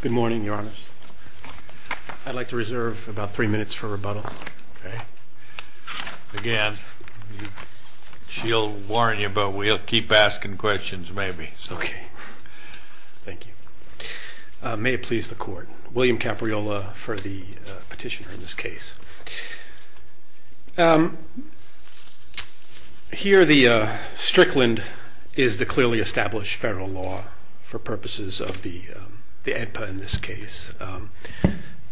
Good morning, your honors. I'd like to reserve about three minutes for rebuttal. Okay. Again, she'll warn you but we'll keep asking questions maybe. Okay, thank you. May it please the court. William Capriola for the petitioner in this case. Here the Strickland is the clearly established federal law for purposes of the Edpa in this case. I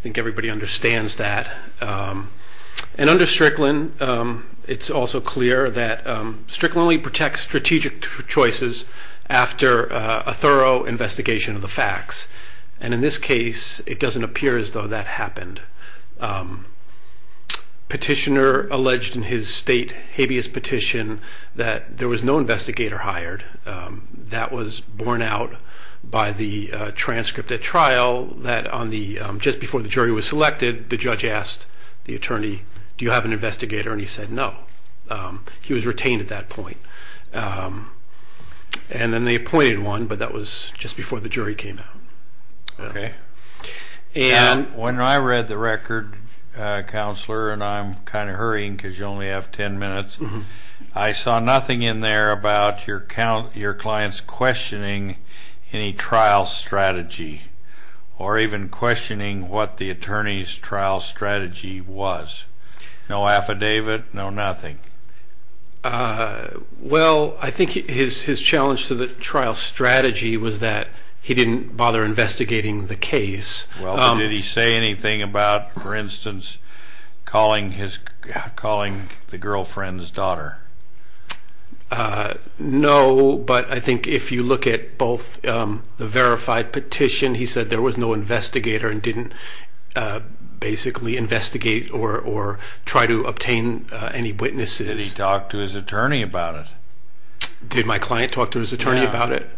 think everybody understands that. And under Strickland, it's also clear that Strickland only protects strategic choices after a thorough investigation of the facts. And in this case, it doesn't appear as though that happened. Petitioner alleged in his state habeas petition that there was no investigator hired. That was borne out by the transcript at trial that on the, just before the jury was selected, the judge asked the attorney, do you have an investigator? And he said no. He was retained at that point. And then they appointed one, but that was just before the jury came out. Okay. And when I read the record, counselor, and I'm kind of hurrying because you only have 10 minutes, I saw nothing in there about your client's questioning any trial strategy or even questioning what the attorney's trial strategy was. No affidavit, no nothing. Well, I think his challenge to the trial strategy was that he didn't bother investigating the case. Well, did he say anything about, for instance, calling his calling the girlfriend's daughter? Uh, no. But I think if you look at both the verified petition, he said there was no investigator and didn't basically investigate or or try to obtain any witnesses. He talked to his attorney about it. Did my client talk to his attorney about it?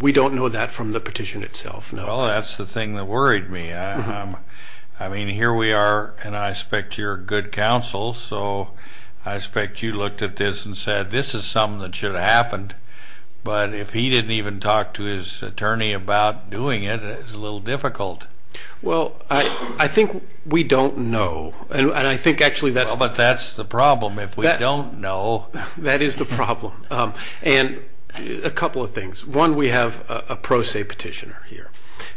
We don't know that from the petition itself. No, that's the thing that worried me. I mean, here we are, and I expect you're good counsel. So I expect you looked at this and said, this is something that should have happened. But if he didn't even talk to his attorney about doing it, it's a little difficult. Well, I think we don't know. And I think actually that's but that's the problem. If we don't know, that is the problem. And a couple of things. One, we have a pro se petitioner here.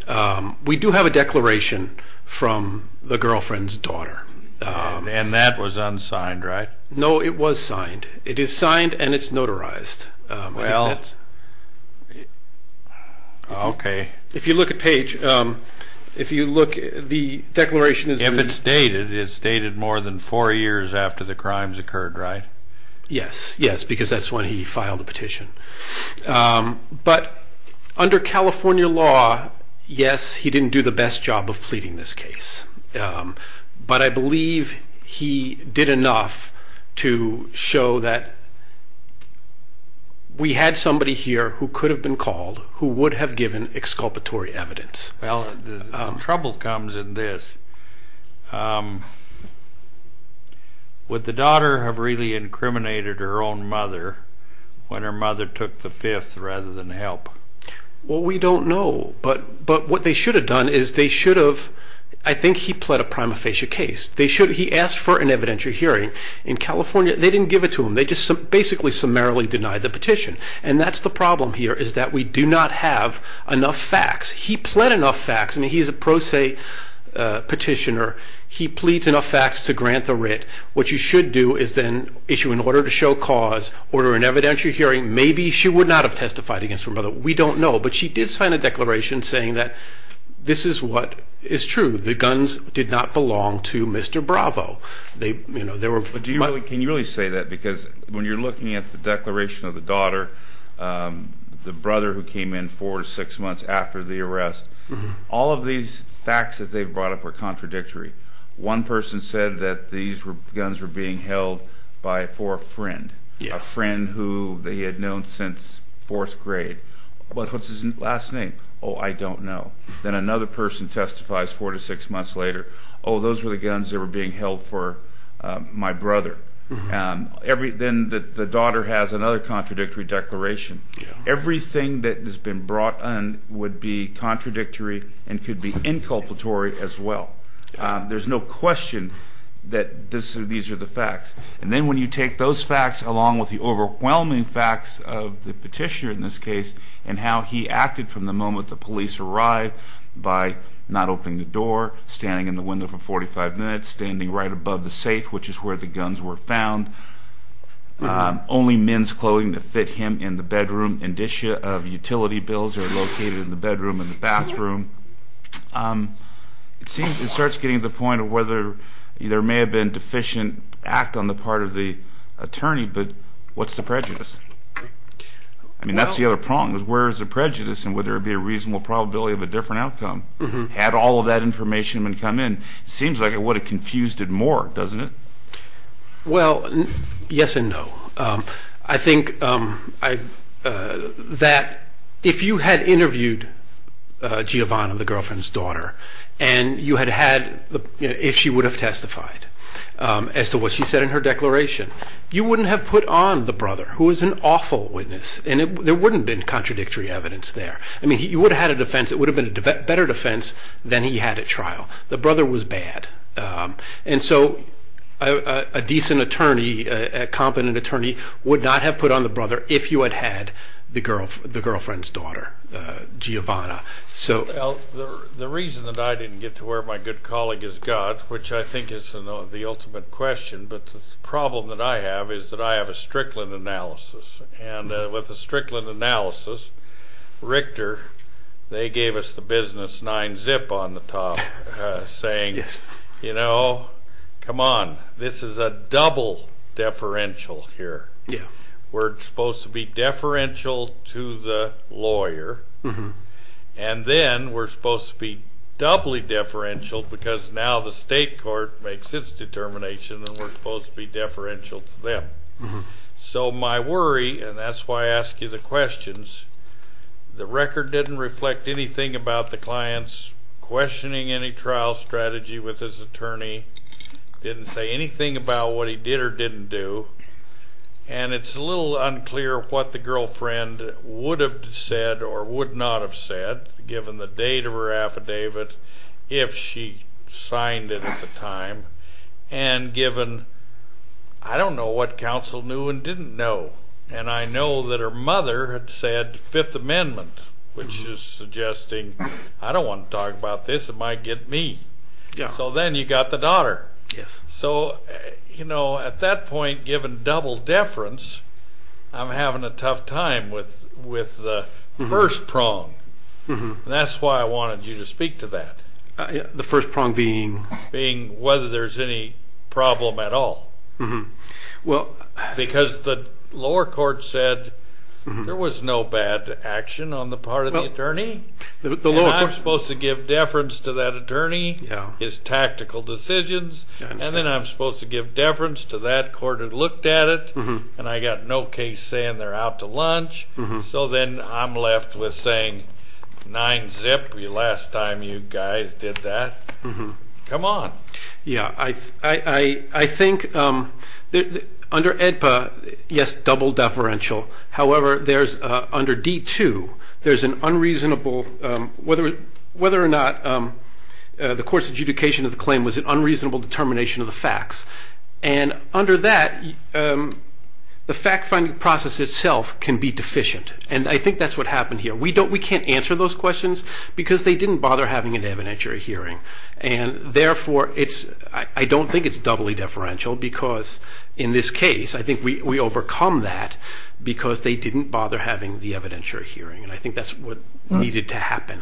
Um, we do have a declaration from the girlfriend's daughter. Um, and that was unsigned, right? No, it was signed. It is signed, and it's notarized. Well, okay, if you look at page, um, if you look, the declaration is if it's dated, it's dated more than four years after the crimes occurred, right? Yes. Yes, because that's when he filed the petition. Um, but under California law, yes, he didn't do the best job of pleading this case. Um, but I believe he did enough to show that we had somebody here who could have been called, who would have given exculpatory evidence. Well, trouble comes in this, um, would the daughter have really incriminated her own mother when her mother took the fifth rather than help? Well, we don't know. But but what they should have done is they should have. I think he pled a prima facie case. They should. He asked for an evidentiary hearing in California. They didn't give it to him. They just basically summarily denied the petition. And that's the problem here is that we do not have enough facts. He pled enough facts. I mean, he's a pro se petitioner. He pleads enough facts to grant the writ. What you should do is then issue in order to show cause order an evidentiary hearing. Maybe she would not have testified against her mother. We don't know. But she did sign a declaration saying that this is what is true. The guns did not belong to Mr Bravo. They, you know, there were. Can you really say that? Because when you're looking at the declaration of the daughter, um, the brother who came in for six months after the arrest, all of these facts that they've brought up are contradictory. One person said that these were guns were being held by for a friend, a friend who they had known since fourth grade. But what's his last name? Oh, I don't know. Then another person testifies four to six months later. Oh, those were the guns that were being held for my brother. Um, everything that the daughter has another contradictory declaration. Everything that has been brought on would be contradictory and could be inculpatory as well. There's no question that these are the facts. And then when you take those facts along with the overwhelming facts of the petitioner in this case and how he acted from the moment the police arrived by not opening the door, standing in the window for 45 minutes, standing right above the safe, which is where the guns were found. Only men's clothing to fit him in the bedroom. Indicia of utility bills are located in the bedroom in the bathroom. Um, it seems it starts getting the point of whether there may have been deficient act on the part of the attorney. But what's the prejudice? I mean, that's the other prong. Where is the prejudice? And would there be a reasonable probability of a different outcome? Had all of that information come in? Seems like it would have confused it more, doesn't it? Well, yes and no. Um, I think, um, I, uh, that if you had interviewed Giovanna, the girlfriend's daughter, and you had had if she would have testified, um, as to what she said in her declaration, you wouldn't have put on the brother who was an awful witness. And there wouldn't been contradictory evidence there. I mean, you would have had a defense. It would have been a better defense than he had a trial. The brother was bad. Um, and so a decent attorney, a competent attorney would not have put on the brother if you had had the girl, the girlfriend's daughter Giovanna. So the reason that I didn't get to where my good colleague is God, which I think is the ultimate question. But the problem that I have is that I have a Strickland analysis and with a business nine zip on the top, uh, saying, you know, come on, this is a double deferential here. We're supposed to be deferential to the lawyer and then we're supposed to be doubly deferential because now the state court makes its determination and we're supposed to be deferential to them. So my worry, and that's why I ask you the questions, the record didn't reflect anything about the client's questioning, any trial strategy with his attorney, didn't say anything about what he did or didn't do. And it's a little unclear what the girlfriend would have said or would not have said given the date of her affidavit, if she signed it at the time and given, I don't know what counsel knew and didn't know. And I know that her mother had said fifth amendment, which is suggesting I don't want to talk about this. It might get me. So then you got the daughter. Yes. So, you know, at that point, given double deference, I'm having a tough time with with the first prong. That's why I wanted you to speak to that. The first prong being being whether there's any problem at all. Well, because the lower court said there was no bad action on the part of the attorney. I'm supposed to give deference to that attorney, his tactical decisions. And then I'm supposed to give deference to that court who looked at it. And I got no case saying they're out to lunch. So then I'm left with saying, nine zip, last time you guys did that. Come on. Yeah, I think under AEDPA, yes, double deferential. However, there's under D2, there's an unreasonable whether whether or not the court's adjudication of the claim was an unreasonable determination of the facts. And under that, the fact-finding process itself can be deficient. And I think that's what happened here. We don't, we can't answer those questions because they didn't bother having an evidentiary hearing. And therefore, it's, I don't think it's doubly deferential because in this case, I think we overcome that because they didn't bother having the evidentiary hearing. And I think that's what needed to happen.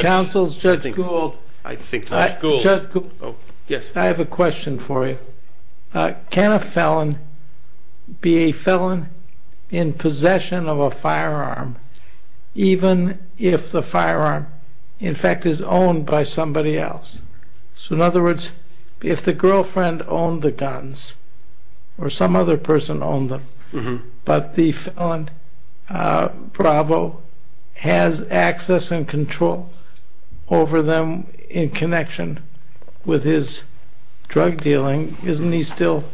Counsel's, Judge Gould. I have a question for you. Can a felon be a felon in possession of a firearm even if the firearm, in fact, is owned by somebody else? So in other words, if the girlfriend owned the guns or some other person owned them, but the felon, Bravo, has access and control over them in connection with his drug dealing, isn't he still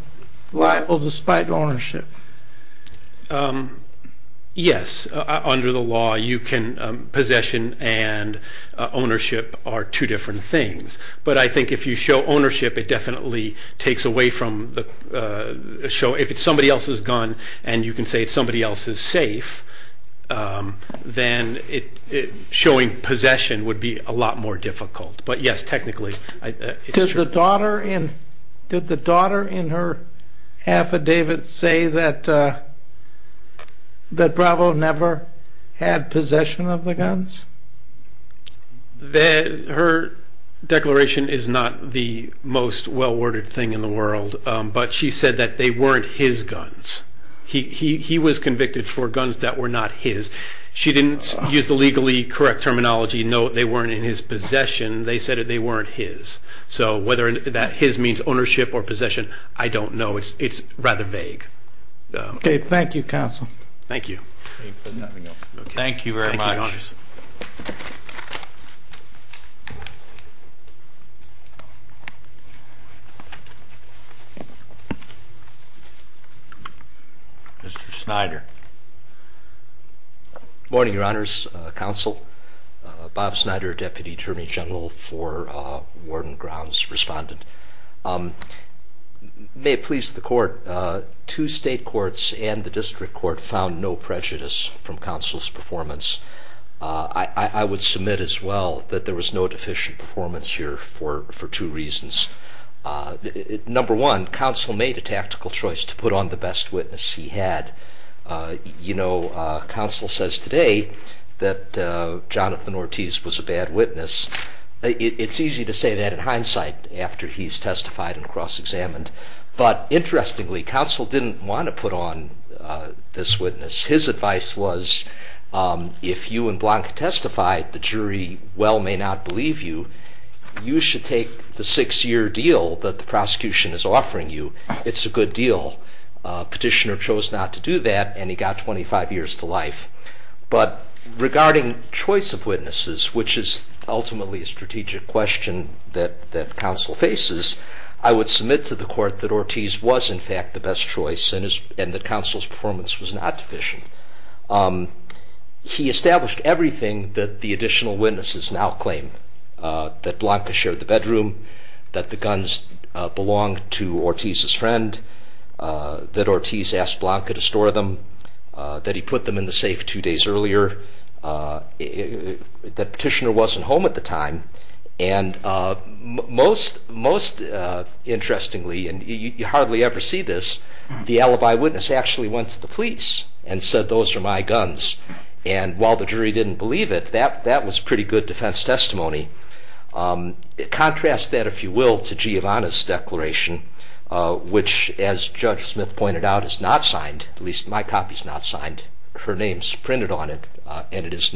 liable despite ownership? Yes, under the law, you can, possession and ownership are two different things. But I think if you show ownership, it definitely takes away from the, if it's somebody else's gun and you can say it's somebody else's safe, then it, showing possession would be a lot more difficult. But yes, technically, it's true. Did the daughter in, did the daughter in her affidavit say that, that Bravo never had a firearm? No, she did not. Exploration is not the most well-worded thing in the world, but she said that they weren't his guns. He was convicted for guns that were not his. She didn't use the legally correct terminology, no, they weren't in his possession. They said that they weren't his. So whether that his means ownership or possession, I don't know. It's rather vague. Okay, thank you, counsel. Thank you. Thank you very much. Mr. Snyder. Morning, Your Honors. Counsel, Bob Snyder, Deputy Attorney General for Warden Brown's respondent. May it please the court, two state courts and the district court found no prejudice from counsel's performance. I would submit as well that there was no deficient performance here for two reasons. Number one, counsel made a tactical choice to put on the best witness he had. You know, counsel says today that Jonathan Ortiz was a bad witness. It's easy to say that in hindsight after he's testified and cross-examined. But interestingly, counsel didn't want to put on this witness. His advice was if you and Blanca testified, the jury well may not believe you. You should take the six-year deal that the prosecution is offering you. It's a good deal. Petitioner chose not to do that and he got 25 years to life. But regarding choice of witnesses, which is ultimately a strategic question that counsel faces, I would submit to the court that Ortiz was in fact the best choice and that counsel's performance was not deficient. He established everything that the additional witnesses now claim, that Blanca shared the bedroom, that the guns belonged to Ortiz's friend, that Ortiz asked Blanca to store them, that he put them in the safe two of the time. And most interestingly, and you hardly ever see this, the alibi witness actually went to the police and said those are my guns. And while the jury didn't believe it, that was pretty good defense testimony. Contrast that, if you will, to Giovanna's declaration, which as Judge Smith pointed out, is not signed. At least my copy's not signed. Her name's printed on it and it is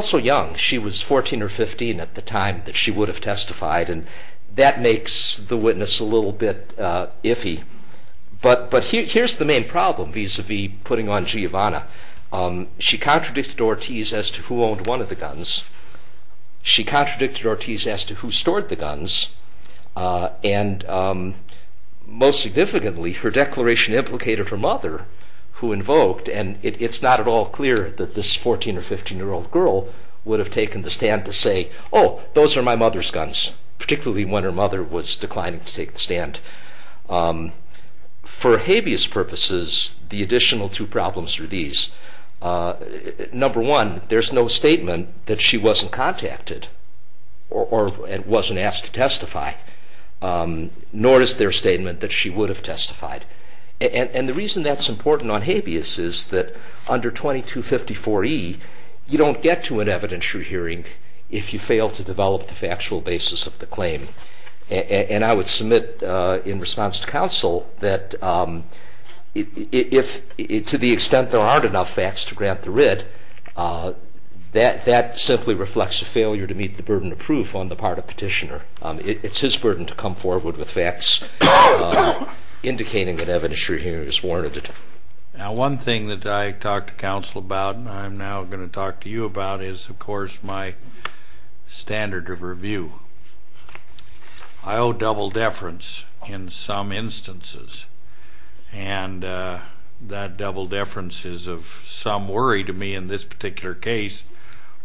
so young. She was 14 or 15 at the time that she would have testified and that makes the witness a little bit iffy. But here's the main problem vis-a-vis putting on Giovanna. She contradicted Ortiz as to who owned one of the guns. She contradicted Ortiz as to who stored the guns and most significantly her declaration implicated her mother who invoked and it's not at all clear that this 14 or 15 year old girl would have taken the stand to say, oh, those are my mother's guns, particularly when her mother was declining to take the stand. For habeas purposes, the additional two problems are these. Number one, there's no statement that she wasn't contacted or wasn't asked to testify, nor is there statement that she would have testified. And the reason that's important on 2254E, you don't get to an evidentiary hearing if you fail to develop the factual basis of the claim. And I would submit in response to counsel that if to the extent there aren't enough facts to grant the writ, that simply reflects a failure to meet the burden of proof on the part of petitioner. It's his burden to come forward with facts indicating that evidentiary hearing is warranted. Now, one thing that I talked to counsel about and I'm now going to talk to you about is, of course, my standard of review. I owe double deference in some instances, and that double deference is of some worry to me in this particular case,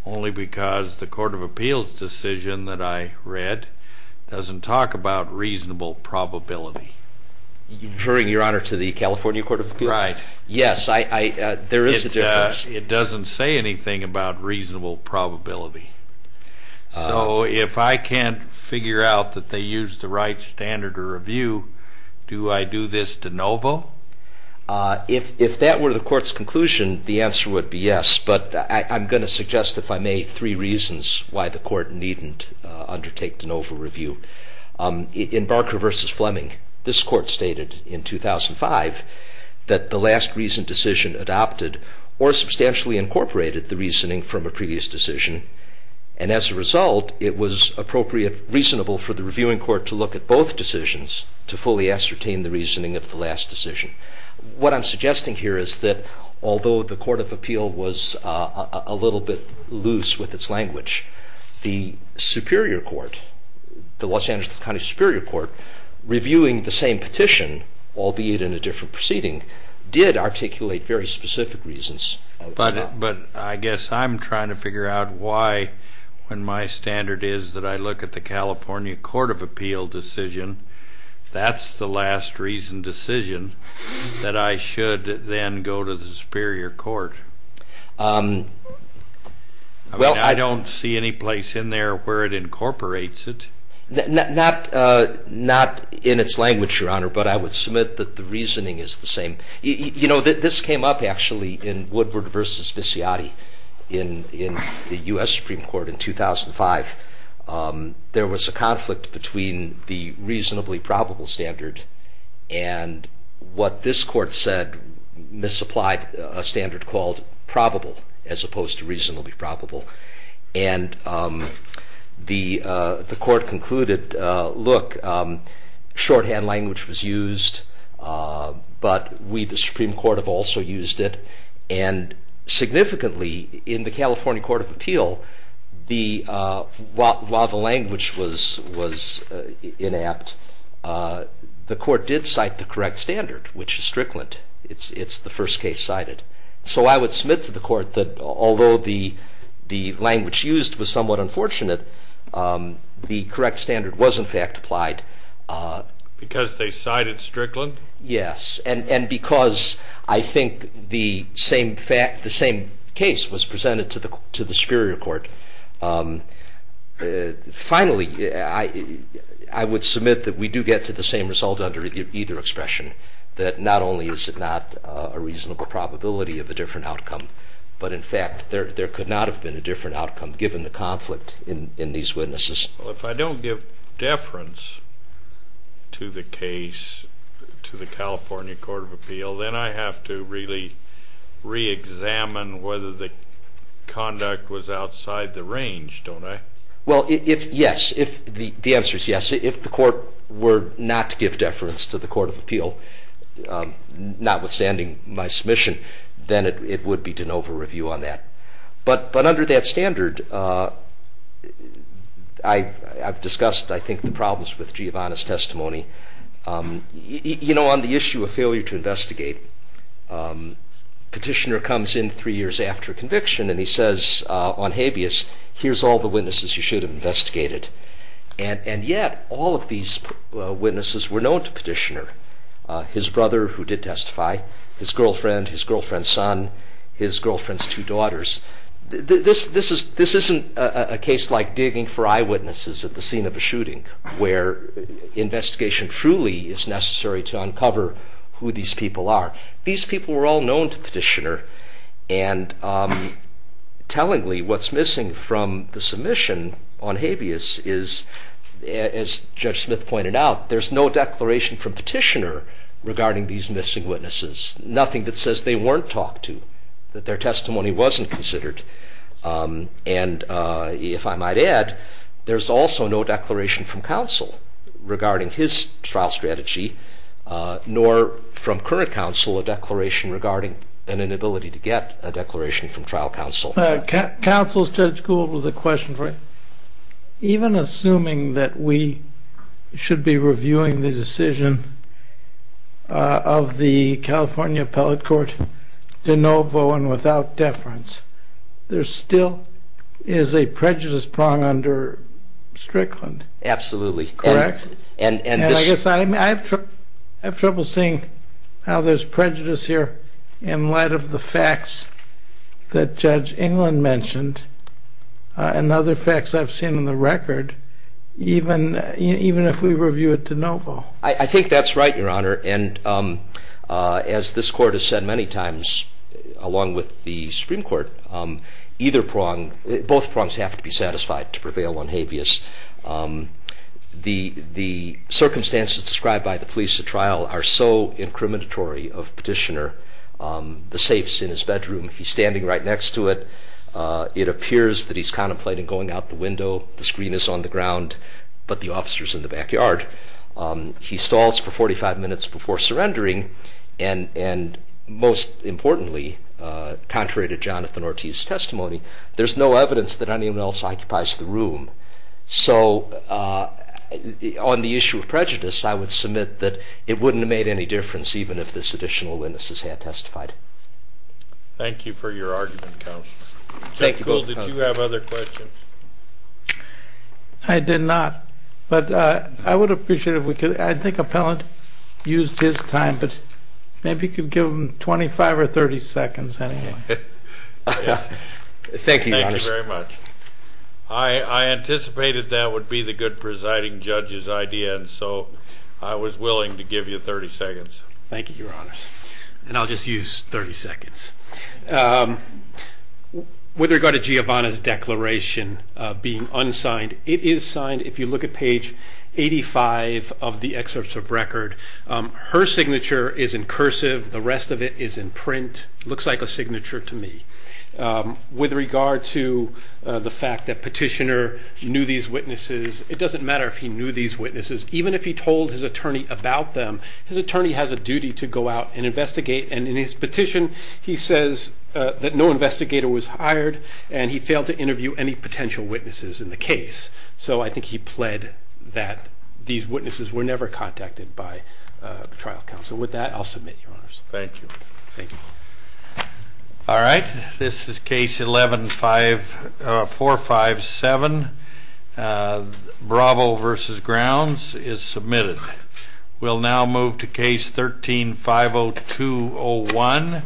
only because the Court of Appeals decision that I read doesn't talk about reasonable probability. You're referring, Your Honor, to the California Court of Appeals? Right. Yes, there is a difference. It doesn't say anything about reasonable probability. So if I can't figure out that they used the right standard of review, do I do this de novo? If that were the Court's conclusion, the answer would be yes. But I'm going to suggest, if I may, three reasons why the Court needn't undertake de novo review. In Barker v. Fleming, this Court stated in 2005 that the last recent decision adopted or substantially incorporated the reasoning from a previous decision. And as a result, it was appropriate, reasonable for the reviewing court to look at both decisions to fully ascertain the reasoning of the last decision. What I'm suggesting here is that although the Court of Appeal was a little bit loose with its language, the Superior Court, the Los Angeles County Superior Court, reviewing the same petition, albeit in a different proceeding, did articulate very specific reasons. But I guess I'm trying to figure out why, when my standard is that I look at the California Court of Appeal decision, that's the last recent decision, that I should then go to the Superior Court. I don't see any place in there where it incorporates it. Not in its language, Your Honor, but I would submit that the reasoning is the same. You know, this came up, actually, in Woodward v. Visciati in the U.S. Supreme Court in 2005. There was a conflict between the reasonably probable standard and what this Court said misapplied a standard called probable, as opposed to reasonably probable. And the Court concluded, look, shorthand language was used, but we, the Supreme Court, have also used it. And significantly, in the California Court of Appeal, while the language was inapt, the Court did cite the correct standard, which is Strickland. It's the first case cited. So I would submit to the Court that, although the language used was somewhat unfortunate, the correct standard was, in fact, applied. Because they cited Strickland? Yes. And because I think the same case was presented to the Superior Court. Finally, I would submit that we do get to the same result under either expression, that not only is it not a reasonable probability of a different outcome, but, in fact, there could not have been a different outcome, given the conflict in these witnesses. Well, if I don't give deference to the case, to the California Court of Appeal, then I have to really re-examine whether the conduct was outside the range, don't I? Well, yes. The answer is yes. If the Court were not to give deference to the Court of Appeal, notwithstanding my submission, then it would be de novo review on that. But under that standard, I've discussed, I think, the problems with Giovanna's testimony. You know, on the earlier to investigate, Petitioner comes in three years after conviction, and he says on habeas, here's all the witnesses you should have investigated. And yet, all of these witnesses were known to Petitioner. His brother, who did testify, his girlfriend, his girlfriend's son, his girlfriend's two daughters. This isn't a case like digging for eyewitnesses at the scene of a who these people are. These people were all known to Petitioner. And tellingly, what's missing from the submission on habeas is, as Judge Smith pointed out, there's no declaration from Petitioner regarding these missing witnesses. Nothing that says they weren't talked to, that their testimony wasn't considered. And if I might add, there's also no declaration from current counsel, a declaration regarding an inability to get a declaration from trial counsel. Counsel, Judge Gould, with a question for you. Even assuming that we should be reviewing the decision of the California Appellate Court de novo and without deference, there still is a prejudice prong under Strickland. Absolutely. Correct? And I guess I have trouble seeing how there's prejudice here in light of the facts that Judge England mentioned and other facts I've seen in the record, even if we review it de novo. I think that's right, Your Honor. And as this Court has said many times, along with the Supreme Court, either prong, both prongs have to be satisfied to prevail on habeas. The circumstances described by the police at trial are so incriminatory of Petitioner. The safe's in his bedroom. He's standing right next to it. It appears that he's contemplating going out the window. The screen is on the ground, but the officer's in the backyard. He stalls for 45 minutes before surrendering, and most importantly, contrary to the law, he's standing right next to the room. So on the issue of prejudice, I would submit that it wouldn't have made any difference even if this additional witness had testified. Thank you for your argument, Counselor. Thank you both, Counselor. Judge Kuhl, did you have other questions? I did not, but I would appreciate it if we could. I think Appellant used his time, but maybe you could give him 25 or 30 seconds anyway. Thank you, Your Honor. Thank you very much. I anticipated that would be the good presiding judge's idea, and so I was willing to give you 30 seconds. Thank you, Your Honors. And I'll just use 30 seconds. With regard to Giovanna's declaration being unsigned, it is signed. If you look at page 85 of the excerpts of record, her signature is in cursive. The rest of it is in print. Looks like a signature to me. With regard to the fact that Petitioner knew these witnesses, it doesn't matter if he knew these witnesses. Even if he told his attorney about them, his attorney has a duty to go out and investigate. And in his petition, he says that no investigator was hired, and he failed to interview any potential witnesses in the case. So I think he pled that these witnesses were never contacted by the trial counsel. With that, I'll submit, Your Honors. Thank you. Thank you. All right. This is Case 11-457, Bravo v. Grounds, is submitted. We'll now move to Case 13-502-01,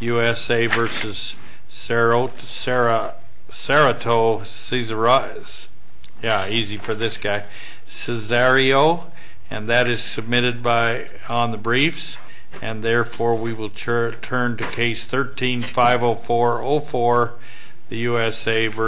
USA v. Serrato-Cesario, and that is submitted on the briefs, and therefore we will turn to Case 13-504-04, the USA v. Reyes-Solosa.